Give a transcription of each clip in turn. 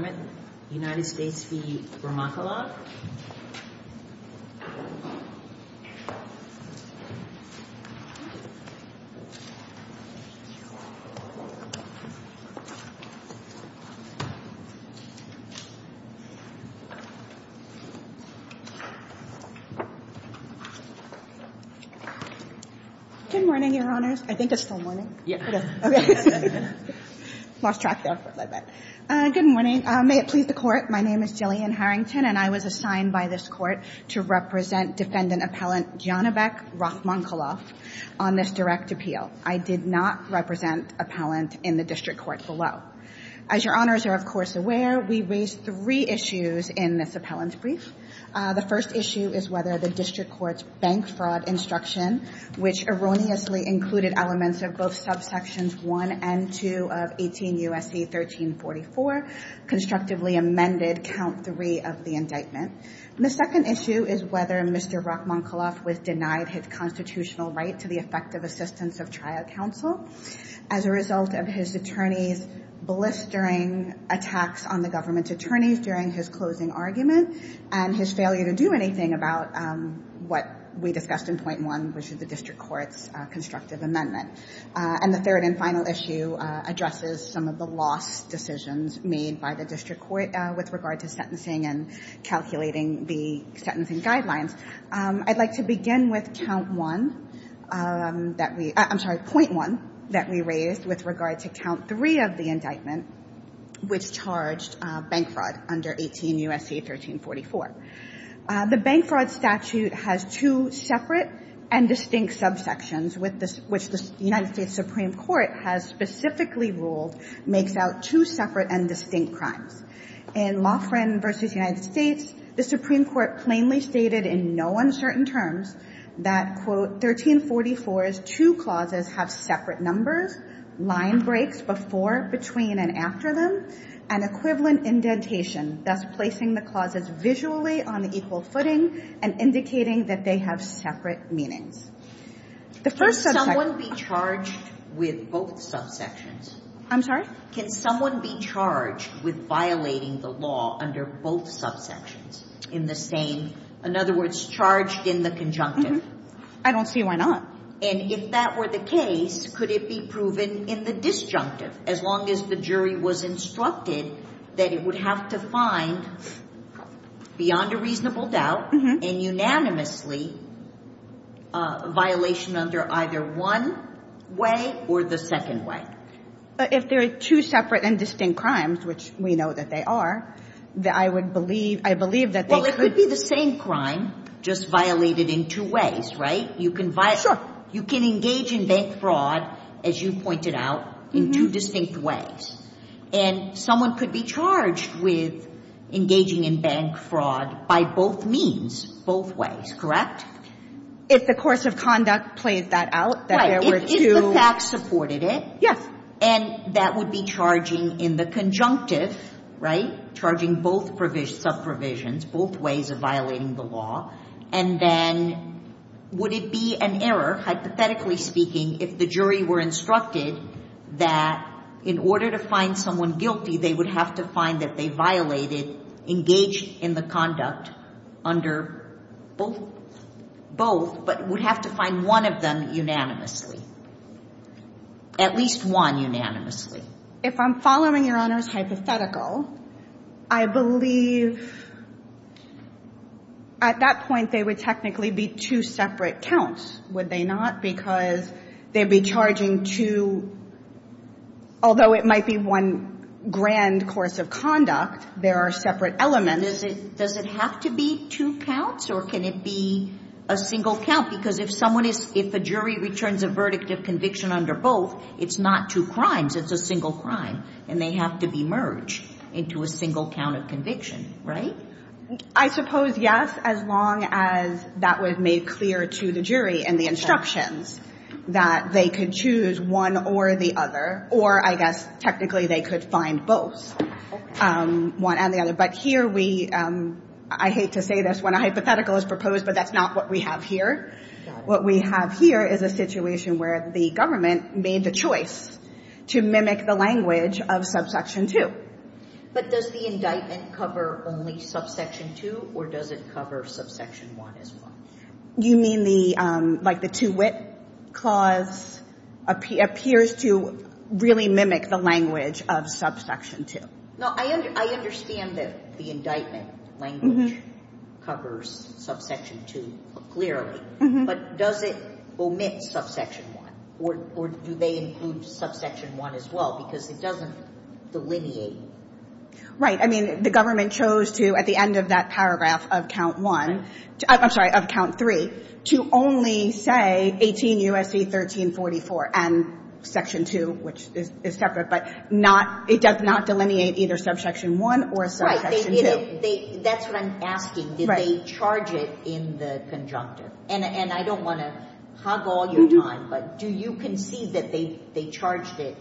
Good morning, Your Honors. I think it's still morning. Okay. Lost track there. Good morning. May it please the Court. My name is Jillian Harrington, and I was assigned by this Court to represent Defendant Appellant Janovek Rahmankulov on this direct appeal. I did not represent Appellant in the District Court below. As Your Honors are, of course, aware, we raised three issues in this Appellant's brief. The first issue is whether the District Court's bank fraud instruction, which erroneously included elements of both subsections 1 and 2 of 18 U.S.C. 1344, constructively amended count 3 of the indictment. The second issue is whether Mr. Rahmankulov was denied his constitutional right to the effective assistance of trial counsel as a result of his attorney's blistering attacks on the government's attorneys during his closing argument and his failure to do anything about what we discussed in point 1, which is the District Court's amendment. And the third and final issue addresses some of the lost decisions made by the District Court with regard to sentencing and calculating the sentencing guidelines. I'd like to begin with count 1 that we, I'm sorry, point 1 that we raised with regard to count 3 of the indictment, which charged bank fraud under 18 U.S.C. 1344. The bank fraud statute has two separate and distinct subsections, which the United States Supreme Court has specifically ruled makes out two separate and distinct crimes. In Loughran v. United States, the Supreme Court plainly stated in no uncertain terms that, quote, 1344's two clauses have separate numbers, line breaks before, between, and after them, and equivalent indentation, thus placing the clauses visually on equal footing and indicating that they have separate meanings. The first subsection Can someone be charged with both subsections? I'm sorry? Can someone be charged with violating the law under both subsections in the same, in other words, charged in the conjunctive? I don't see why not. And if that were the case, could it be proven in the disjunctive, as long as the jury was instructed that it would have to find, beyond a reasonable doubt, and unanimously, a violation under either one way or the second way? But if there are two separate and distinct crimes, which we know that they are, that I would believe, I believe that they could be the same crime, just violated in two ways, right? You can violate, you can engage in bank fraud, as you pointed out, in two distinct ways. And someone could be charged with engaging in bank fraud by both means, both ways, correct? If the course of conduct played that out, that there were two. If the facts supported it. Yes. And that would be charging in the conjunctive, right? Charging both provisions, both ways of violating the law. And then would it be an error, hypothetically speaking, if the jury were instructed that in order to find someone guilty, they would have to find that they violated, engaged in the conduct under both, but would have to find one of them unanimously. At least one unanimously. If I'm following Your Honor's hypothetical, I believe at that point, they would technically be two separate counts, would they not? Because they'd be charging two, although it might be one grand course of conduct, there are separate elements. Does it have to be two counts or can it be a single count? Because if someone is, if a jury returns a verdict of conviction under both, it's not two crimes, it's a single crime and they have to be merged into a single count of conviction, right? I suppose yes, as long as that was made clear to the jury and the instructions that they could choose one or the other, or I guess technically they could find both, one and the other. But here we, I hate to say this when a hypothetical is proposed, but that's not what we have here. What we have here is a situation where the government made the choice to mimic the language of subsection two. But does the indictment cover only subsection two or does it cover subsection one as well? You mean the, like the two-wit clause appears to really mimic the language of subsection two? No, I understand that the language covers subsection two clearly, but does it omit subsection one or do they include subsection one as well because it doesn't delineate? Right. I mean, the government chose to, at the end of that paragraph of count one, I'm sorry, of count three, to only say 18 U.S.C. 1344 and section two, which is separate, but not, it does not delineate either subsection one or subsection two. Right. They, that's what I'm asking. Did they charge it in the conjunctive? And I don't want to hog all your time, but do you concede that they charged it,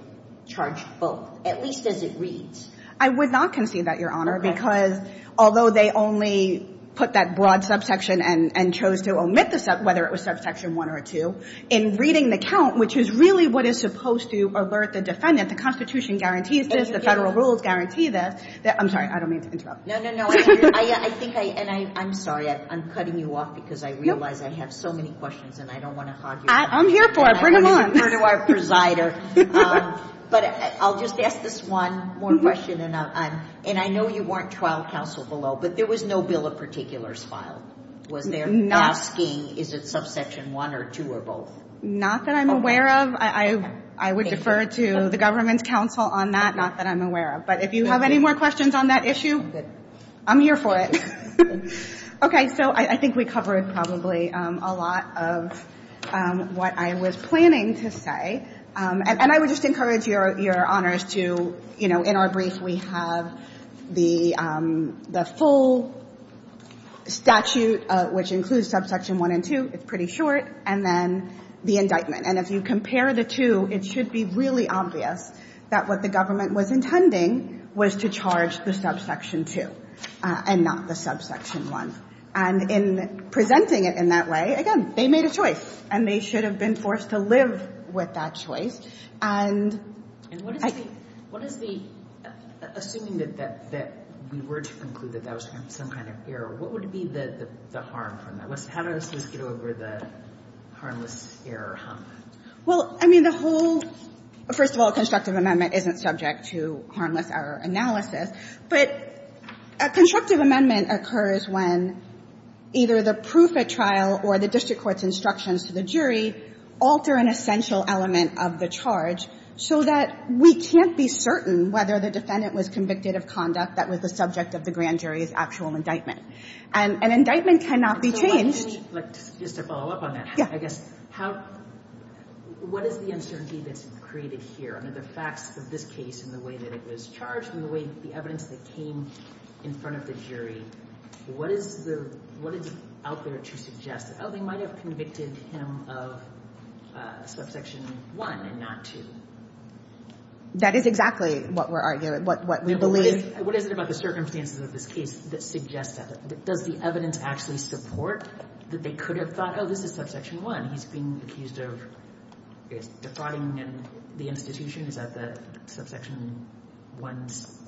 charged both, at least as it reads? I would not concede that, Your Honor, because although they only put that broad subsection and chose to omit the sub, whether it was subsection one or two, in reading the count, which is really what is supposed to alert the defendant, the Constitution guarantees this, the federal rules guarantee this, that, I'm sorry, I don't mean to interrupt. No, no, no. I think, and I'm sorry, I'm cutting you off because I realize I have so many questions and I don't want to hog your time. I'm here for it. Bring them on. I want to refer to our presider. But I'll just ask this one more question, and I know you weren't trial counsel below, but there was no bill of particulars filed. Was there asking is it subsection one or two or both? Not that I'm aware of. I would defer to the government's counsel on that, not that I'm aware of. But if you have any more questions on that issue, I'm here for it. Okay. So I think we covered probably a lot of what I was planning to say. And I would just encourage your honors to, you know, in our brief, we have the full statute, which includes subsection one and two. It's pretty short. And then the indictment. And if you compare the two, it should be really obvious that what the government was intending was to charge the subsection two and not the subsection one. And in presenting it in that way, again, they made a choice. And they should have been forced to live with that choice. And — And what is the — assuming that we were to conclude that that was some kind of error, what would be the harm from that? How does this get over the harmless error hump? Well, I mean, the whole — first of all, a constructive amendment isn't subject to harmless error analysis. But a constructive amendment occurs when either the proof at trial or the district court's instructions to the jury alter an essential element of the charge so that we can't be certain whether the defendant was convicted of conduct that was the subject of the grand jury's actual indictment. And an indictment cannot be changed. And so why didn't you — like, just to follow up on that. Yeah. I guess, how — what is the uncertainty that's created here? I mean, the facts of this case and the way that it was charged and the way — the evidence that came in front of the jury, what is the — what is out there to suggest that, oh, they might have convicted him of subsection one and not two? That is exactly what we're arguing — what we believe. What is it about the circumstances of this case that suggests that? Does the evidence actually support that they could have thought, oh, this is subsection one, he's being accused of defrauding the institution? Is that the subsection one's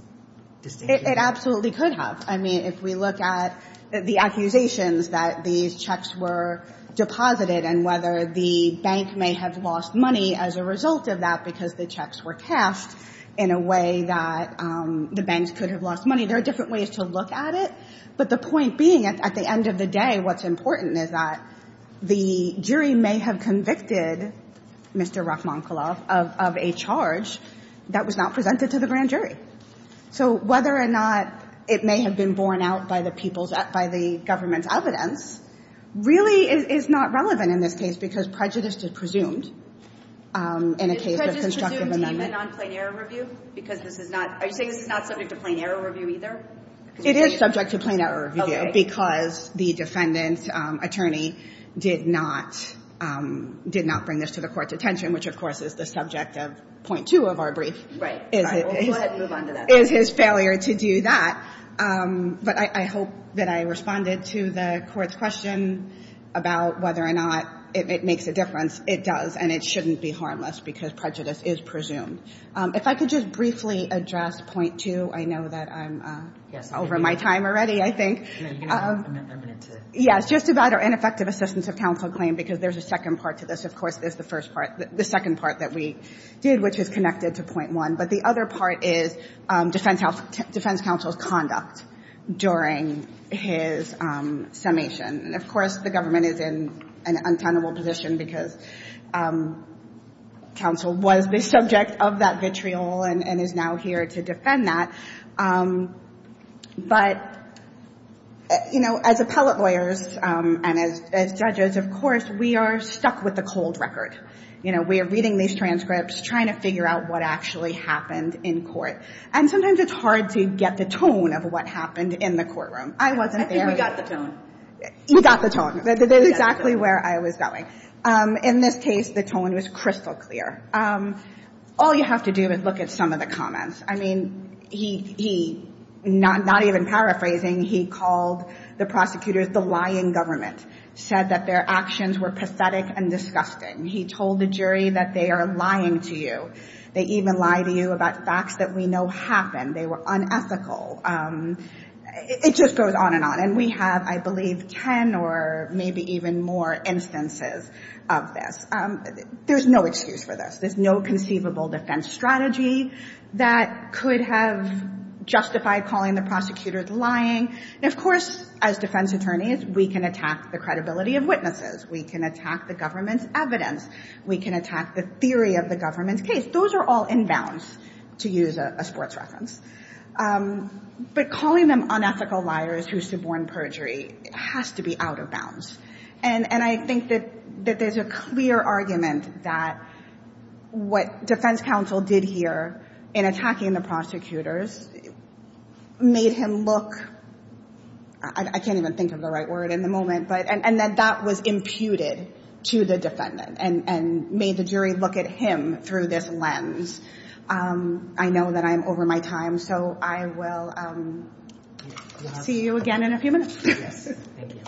distinction? It absolutely could have. I mean, if we look at the accusations that these checks were deposited and whether the bank may have lost money as a result of that because the checks were cast in a way that the banks could have lost money, there are different ways to look at it. But the point being, at the end of the day, what's important is that the jury may have convicted Mr. Rachmaninoff of a charge that was not presented to the grand jury. So whether or not it may have been borne out by the people's — by the government's evidence really is not relevant in this case because prejudice is presumed in a case of — Is it presumed even on plain error review? Because this is not — are you saying this is not subject to plain error review either? It is subject to plain error review because the defendant's attorney did not — did not bring this to the Court's attention, which, of course, is the subject of point two of our brief. Right. Is it — All right. Well, go ahead and move on to that. Is his failure to do that. But I hope that I responded to the Court's question about whether or not it makes a difference. It does. And it shouldn't be harmless because prejudice is presumed. If I could just briefly address point two. I know that I'm over my time already, I think. No, you have a minute to — Yes, just about our ineffective assistance of counsel claim because there's a second part to this. Of course, there's the first part — the second part that we did, which is connected to point one. But the other part is defense counsel's conduct during his summation. And, of course, the government is in an untenable position because counsel was the subject of that vitriol and is now here to defend that. But, you know, as appellate lawyers and as judges, of course, we are stuck with the cold record. You know, we are reading these transcripts, trying to figure out what actually happened in court. And sometimes it's hard to get the tone of what happened in the courtroom. I wasn't there. I think we got the tone. We got the tone. That's exactly where I was going. In this case, the tone was crystal clear. All you have to do is look at some of the comments. I mean, he — not even paraphrasing — he called the prosecutors the lying government, said that their actions were pathetic and disgusting. He told the jury that they are lying to you. They even lie to you about facts that we know happened. They were unethical. It just goes on and on. And we have, I believe, 10 or maybe even more instances of this. There's no excuse for this. There's no conceivable defense strategy that could have justified calling the prosecutors lying. And, of course, as defense attorneys, we can attack the credibility of witnesses. We can attack the government's evidence. We can attack the theory of the government's case. Those are all inbounds, to use a sports reference. But calling them unethical liars who suborn perjury has to be out of bounds. And I think that there's a clear argument that what defense counsel did here in attacking the prosecutors made him look — I can't even think of the right word in the moment — but — and that that was imputed to the defendant and made the jury look at him through this lens. I know that I'm over my time, so I will see you again in a few minutes. Yes. Thank you.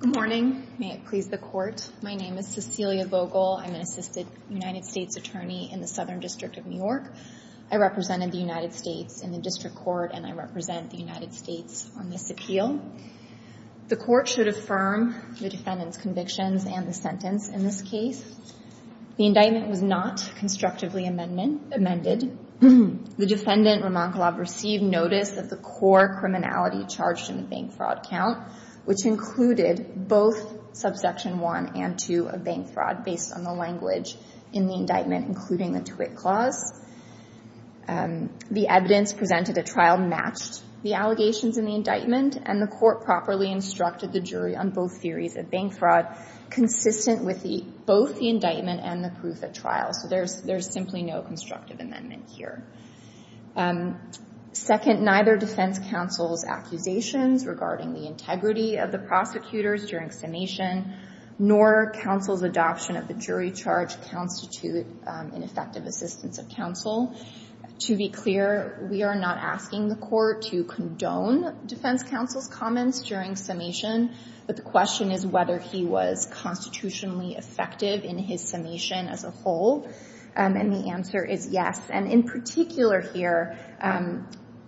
Good morning. May it please the Court. My name is Cecilia Vogel. I'm an assisted United States attorney in the Southern District of New York. I represented the United States in the District Court, and I represent the United States on this appeal. The Court should affirm the defendant's convictions and the sentence in this case. The indictment was not constructively amended. The defendant, Romankolov, received notice of the core criminality charged in the bank fraud count, which included both subsection 1 and 2 of bank fraud, based on the language in the indictment, including the Twitt clause. The evidence presented at trial matched the allegations in the indictment, and the Court properly instructed the jury on both theories of bank fraud consistent with both the indictment and the proof at trial. So there's simply no constructive amendment here. Second, neither defense counsel's accusations regarding the integrity of the prosecutors during summation nor counsel's adoption of the jury charge constitute ineffective assistance of counsel. To be clear, we are not asking the Court to condone defense counsel's comments during summation, but the question is whether he was constitutionally effective in his summation as a whole, and the answer is yes. And in particular here,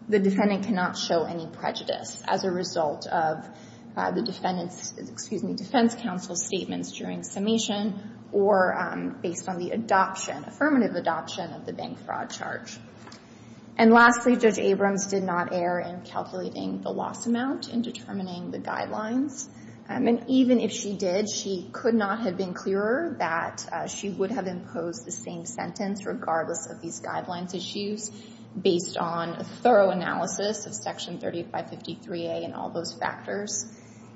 the defendant cannot show any prejudice as a result of the defendant's, excuse me, counsel's statements during summation or based on the adoption, affirmative adoption of the bank fraud charge. And lastly, Judge Abrams did not err in calculating the loss amount in determining the guidelines, and even if she did, she could not have been clearer that she would have imposed the same sentence regardless of these guidelines issues based on a thorough analysis of Section 3553A and all those factors.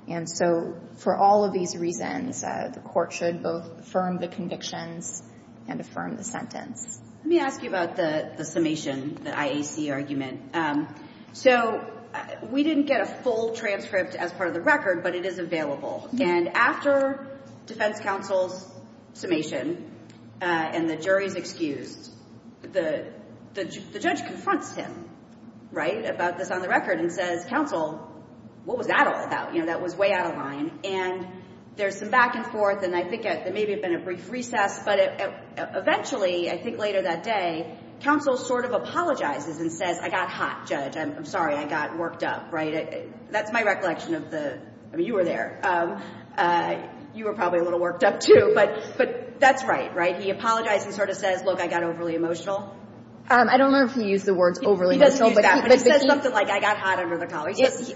And so for all of these reasons, the Court should both affirm the convictions and affirm the sentence. Let me ask you about the summation, the IAC argument. So we didn't get a full transcript as part of the record, but it is available. And after defense counsel's summation and the jury's excused, the judge confronts him, right, about this on the record and says, counsel, what was that all about? You know, that was way out of line. And there's some back and forth, and I think maybe it had been a brief recess, but eventually, I think later that day, counsel sort of apologizes and says, I got hot, judge. I'm sorry I got worked up, right? That's my recollection of the, I mean, you were there. You were probably a little worked up, too. But that's right, right? He apologized and sort of says, look, I got overly emotional. I don't know if he used the words overly emotional, but he says something like, I got hot under the collar.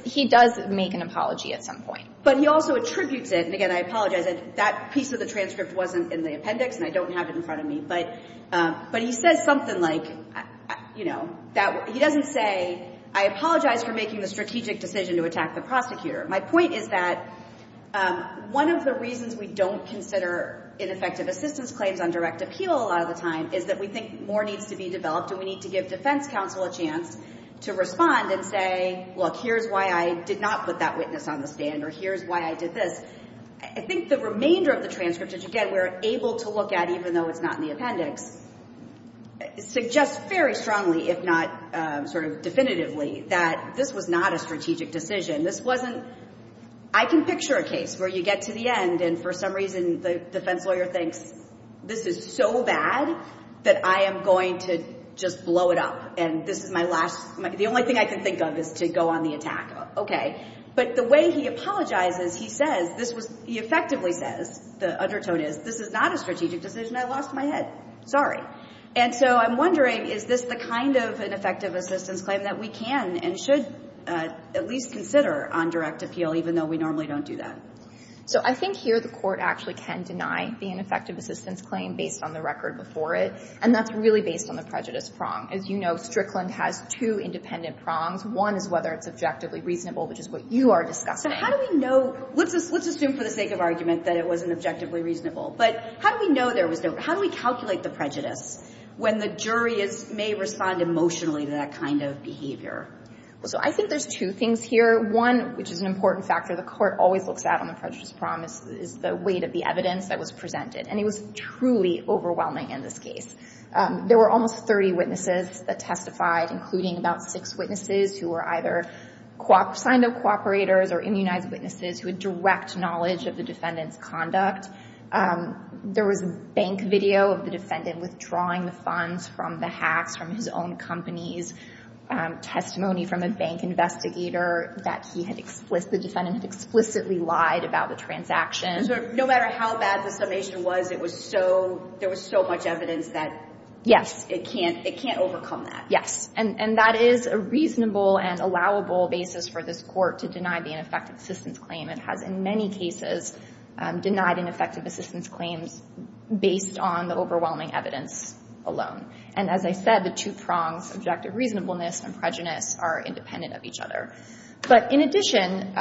He does make an apology at some point. But he also attributes it, and again, I apologize. That piece of the transcript wasn't in the appendix, and I don't have it in front of me. But he says something like, you know, he doesn't say, I apologize for making the strategic decision to attack the prosecutor. My point is that one of the reasons we don't consider ineffective assistance claims on direct appeal a lot of the time is that we think more needs to be developed, and we need to give defense counsel a chance to respond and say, look, here's why I did not put that witness on the stand, or here's why I did this. I think the remainder of the transcriptage, again, we're able to look at, even though it's not in the appendix, suggests very strongly, if not sort of definitively, that this was not a strategic decision. This wasn't, I can picture a case where you get to the end, and for some reason the defense lawyer thinks, this is so bad that I am going to just blow it up, and this is my last, the only thing I can think of is to go on the attack. Okay. But the way he apologizes, he says, this was, he effectively says, the undertone is, this is not a strategic decision. I lost my head. Sorry. And so I'm wondering, is this the kind of ineffective assistance claim that we can and should at least consider on direct appeal, even though we normally don't do that? So I think here the court actually can deny the ineffective assistance claim based on the record before it, and that's really based on the prejudice prong. As you know, Strickland has two independent prongs. One is whether it's objectively reasonable, which is what you are discussing. How do we know, let's assume for the sake of argument that it wasn't objectively reasonable, but how do we know there was no, how do we calculate the prejudice when the jury may respond emotionally to that kind of behavior? Well, so I think there's two things here. One, which is an important factor the court always looks at on the prejudice prong is the weight of the evidence that was presented, and it was truly overwhelming in this case. There were almost 30 witnesses that testified, including about six witnesses who were either signed up cooperators or immunized witnesses who had direct knowledge of the defendant's conduct. There was a bank video of the defendant withdrawing the funds from the hacks from his own company's testimony from a bank investigator that he had, the defendant had explicitly lied about the transaction. So no matter how bad the summation was, it was so, there was so much evidence that it can't, it can't overcome that. Yes, and that is a reasonable and allowable basis for this court to deny the ineffective assistance claim. It has in many cases denied ineffective assistance claims based on the overwhelming evidence alone. And as I said, the two prongs, subjective reasonableness and prejudice are independent of each other. But in addition,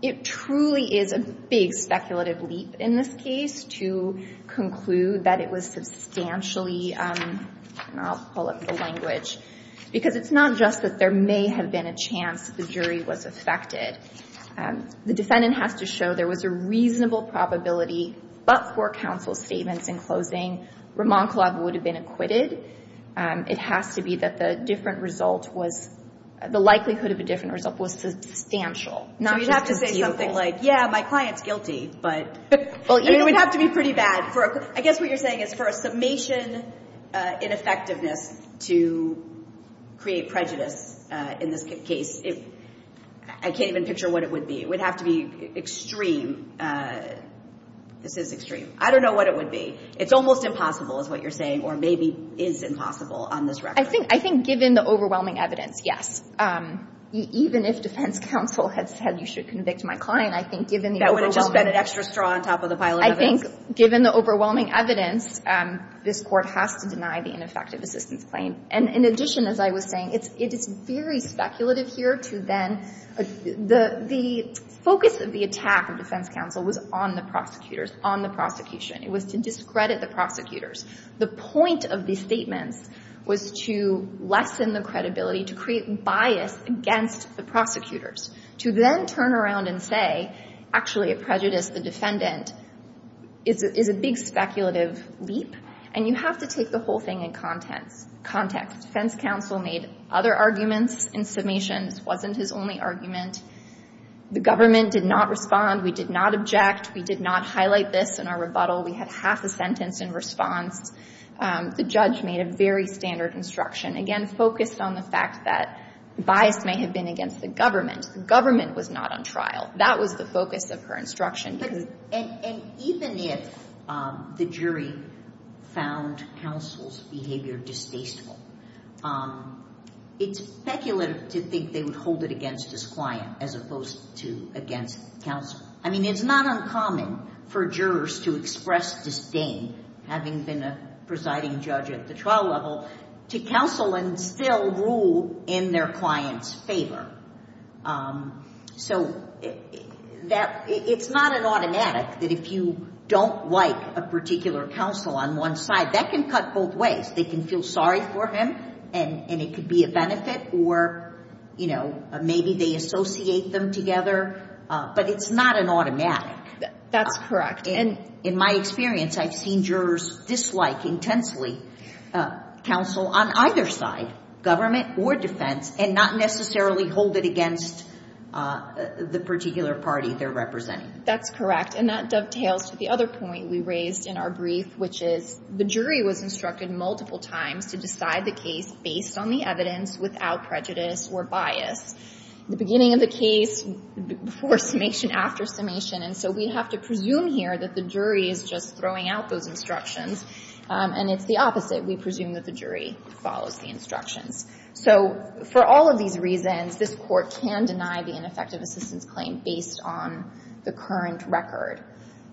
it truly is a big speculative leap in this case to conclude that it was substantially, and I'll pull up the language, because it's not just that there may have been a chance the jury was affected. The defendant has to show there was a reasonable probability, but for counsel's statements in closing, Ramon Collab would have been acquitted. It has to be that the different result was, the likelihood of a different result was substantial, not just conceivable. So you'd have to say something like, yeah, my client's guilty, but you'd have to be pretty bad for, I guess what you're saying is for a summation ineffectiveness to create prejudice in this case. I can't even picture what it would be. It would have to be extreme. This is extreme. I don't know what it would be. It's almost impossible is what you're saying, or maybe is impossible on this record. I think given the overwhelming evidence, yes. Even if defense counsel had said you should convict my client, I think given the overwhelming evidence. That would have just been an extra straw on top of the pile of evidence. Given the overwhelming evidence, this Court has to deny the ineffective assistance claim. And in addition, as I was saying, it is very speculative here to then, the focus of the attack of defense counsel was on the prosecutors, on the prosecution. It was to discredit the prosecutors. The point of these statements was to lessen the credibility, to create bias against the prosecutors, to then turn around and say, actually, the defendant is a big speculative leap. And you have to take the whole thing in context. Defense counsel made other arguments in summations. It wasn't his only argument. The government did not respond. We did not object. We did not highlight this in our rebuttal. We had half a sentence in response. The judge made a very standard instruction, again, focused on the fact that bias may have been against the government. The government was not on trial. That was the instruction. And even if the jury found counsel's behavior distasteful, it's speculative to think they would hold it against his client as opposed to against counsel. I mean, it's not uncommon for jurors to express disdain, having been a presiding judge at the trial level, to counsel and still rule in their client's favor. So it's not an automatic that if you don't like a particular counsel on one side, that can cut both ways. They can feel sorry for him, and it could be a benefit, or maybe they associate them together. But it's not an automatic. That's correct. In my experience, I've seen jurors dislike intensely counsel on either side, government or defense, and not necessarily hold it against the particular party they're representing. That's correct. And that dovetails to the other point we raised in our brief, which is the jury was instructed multiple times to decide the case based on the evidence without prejudice or bias. The beginning of the case, before summation, after summation. And so we have to presume here that the jury is just throwing out those instructions. And it's the opposite. We presume that the jury follows the instructions. So for all of these reasons, this Court can deny the ineffective assistance claim based on the current record.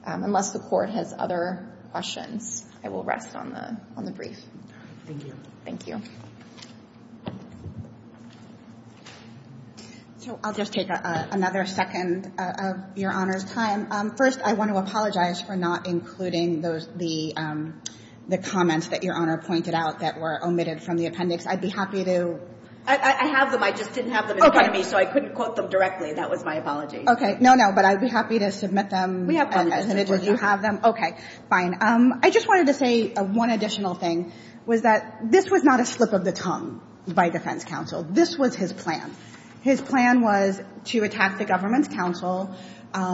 Unless the Court has other questions, I will rest on the brief. Thank you. Thank you. So I'll just take another second of Your Honor's time. First, I want to apologize for not including those the comments that Your Honor pointed out that were omitted from the appendix. I'd be happy to. I have them. I just didn't have them in front of me, so I couldn't quote them directly. That was my apology. Okay. No, no. But I'd be happy to submit them. We have them. As an individual, you have them. Okay. Fine. I just wanted to say one additional thing, was that this was not a slip of the tongue by defense counsel. This was his plan. His plan was to attack the government's counsel.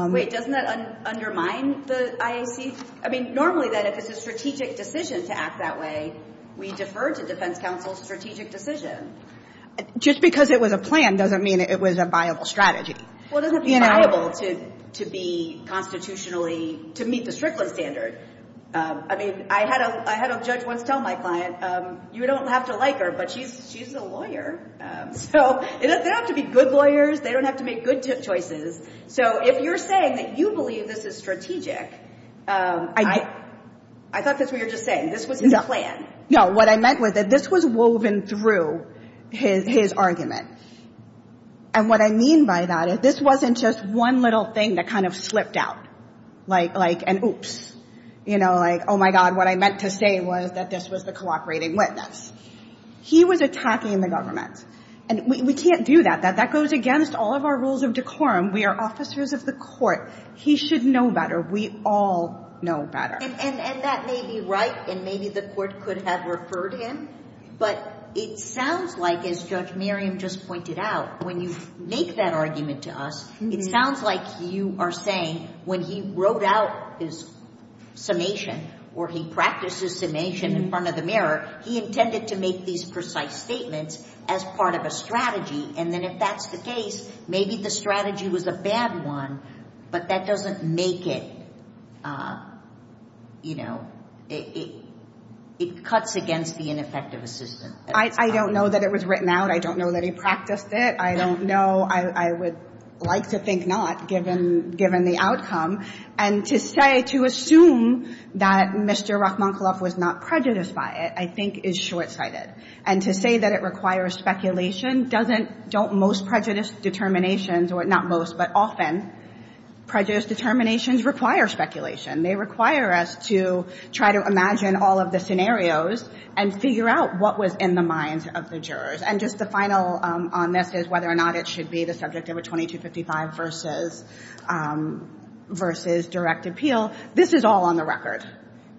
Wait. Doesn't that undermine the IAC? I mean, normally then, if it's a strategic decision to act that way, we defer to defense counsel's strategic decision. Just because it was a plan doesn't mean it was a viable strategy. Well, it doesn't have to be viable to be constitutionally, to meet the Strickland standard. I mean, I had a judge once tell my client, you don't have to like her, but she's a lawyer. So they don't have to be good lawyers. They don't have to make good choices. So if you're saying that you believe this is strategic, I thought that's what you're just saying. This was his plan. No. What I meant was that this was woven through his argument. And what I mean by that is this wasn't just one little thing that kind of slipped out, like an oops. You know, like, oh my God, what I meant to say was that this was the cooperating witness. He was attacking the government. And we can't do that. That goes against all of our rules of decorum. We are officers of the court. He should know better. We all know better. And that may be right, and maybe the court could have referred him. But it sounds like, as Judge Merriam just pointed out, when you make that argument to us, it sounds like you are saying when he wrote out his summation or he practiced his summation in front of the mirror, he intended to make these precise statements as part of a strategy. And then if that's the case, maybe the strategy was a bad one, but that doesn't make it, you know, it cuts against the ineffective assistant. I don't know that it was written out. I don't know that he practiced it. I don't know. I would like to think not, given the outcome. And to say, to assume that Mr. Rachmaninoff was not prejudiced by it, I think is short-sighted. And to say that it requires speculation doesn't, don't most prejudice determinations, or not most, but often, prejudice determinations require speculation. They require us to try to imagine all of the scenarios and figure out what was in the minds of the jurors. And just the final on this is whether or not it should be the subject of a 2255 versus direct appeal. This is all on the record.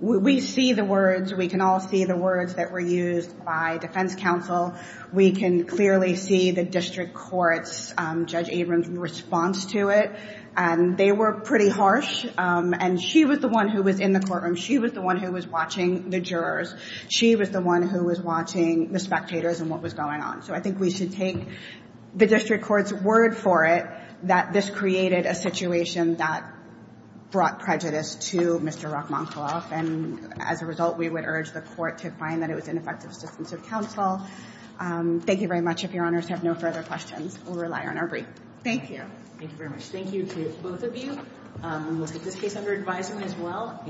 We see the words. We can all see the words that were used by defense counsel. We can clearly see the district court's, Judge Abrams' response to it. And they were pretty harsh. And she was the one who was in the courtroom. She was the one who watching the jurors. She was the one who was watching the spectators and what was going on. So I think we should take the district court's word for it that this created a situation that brought prejudice to Mr. Rachmaninoff. And as a result, we would urge the court to find that it was ineffective assistance of counsel. Thank you very much. If your honors have no further questions, we'll rely on our brief. Thank you. Thank you very much. Thank you to both of you. We'll take this case under advisement as well.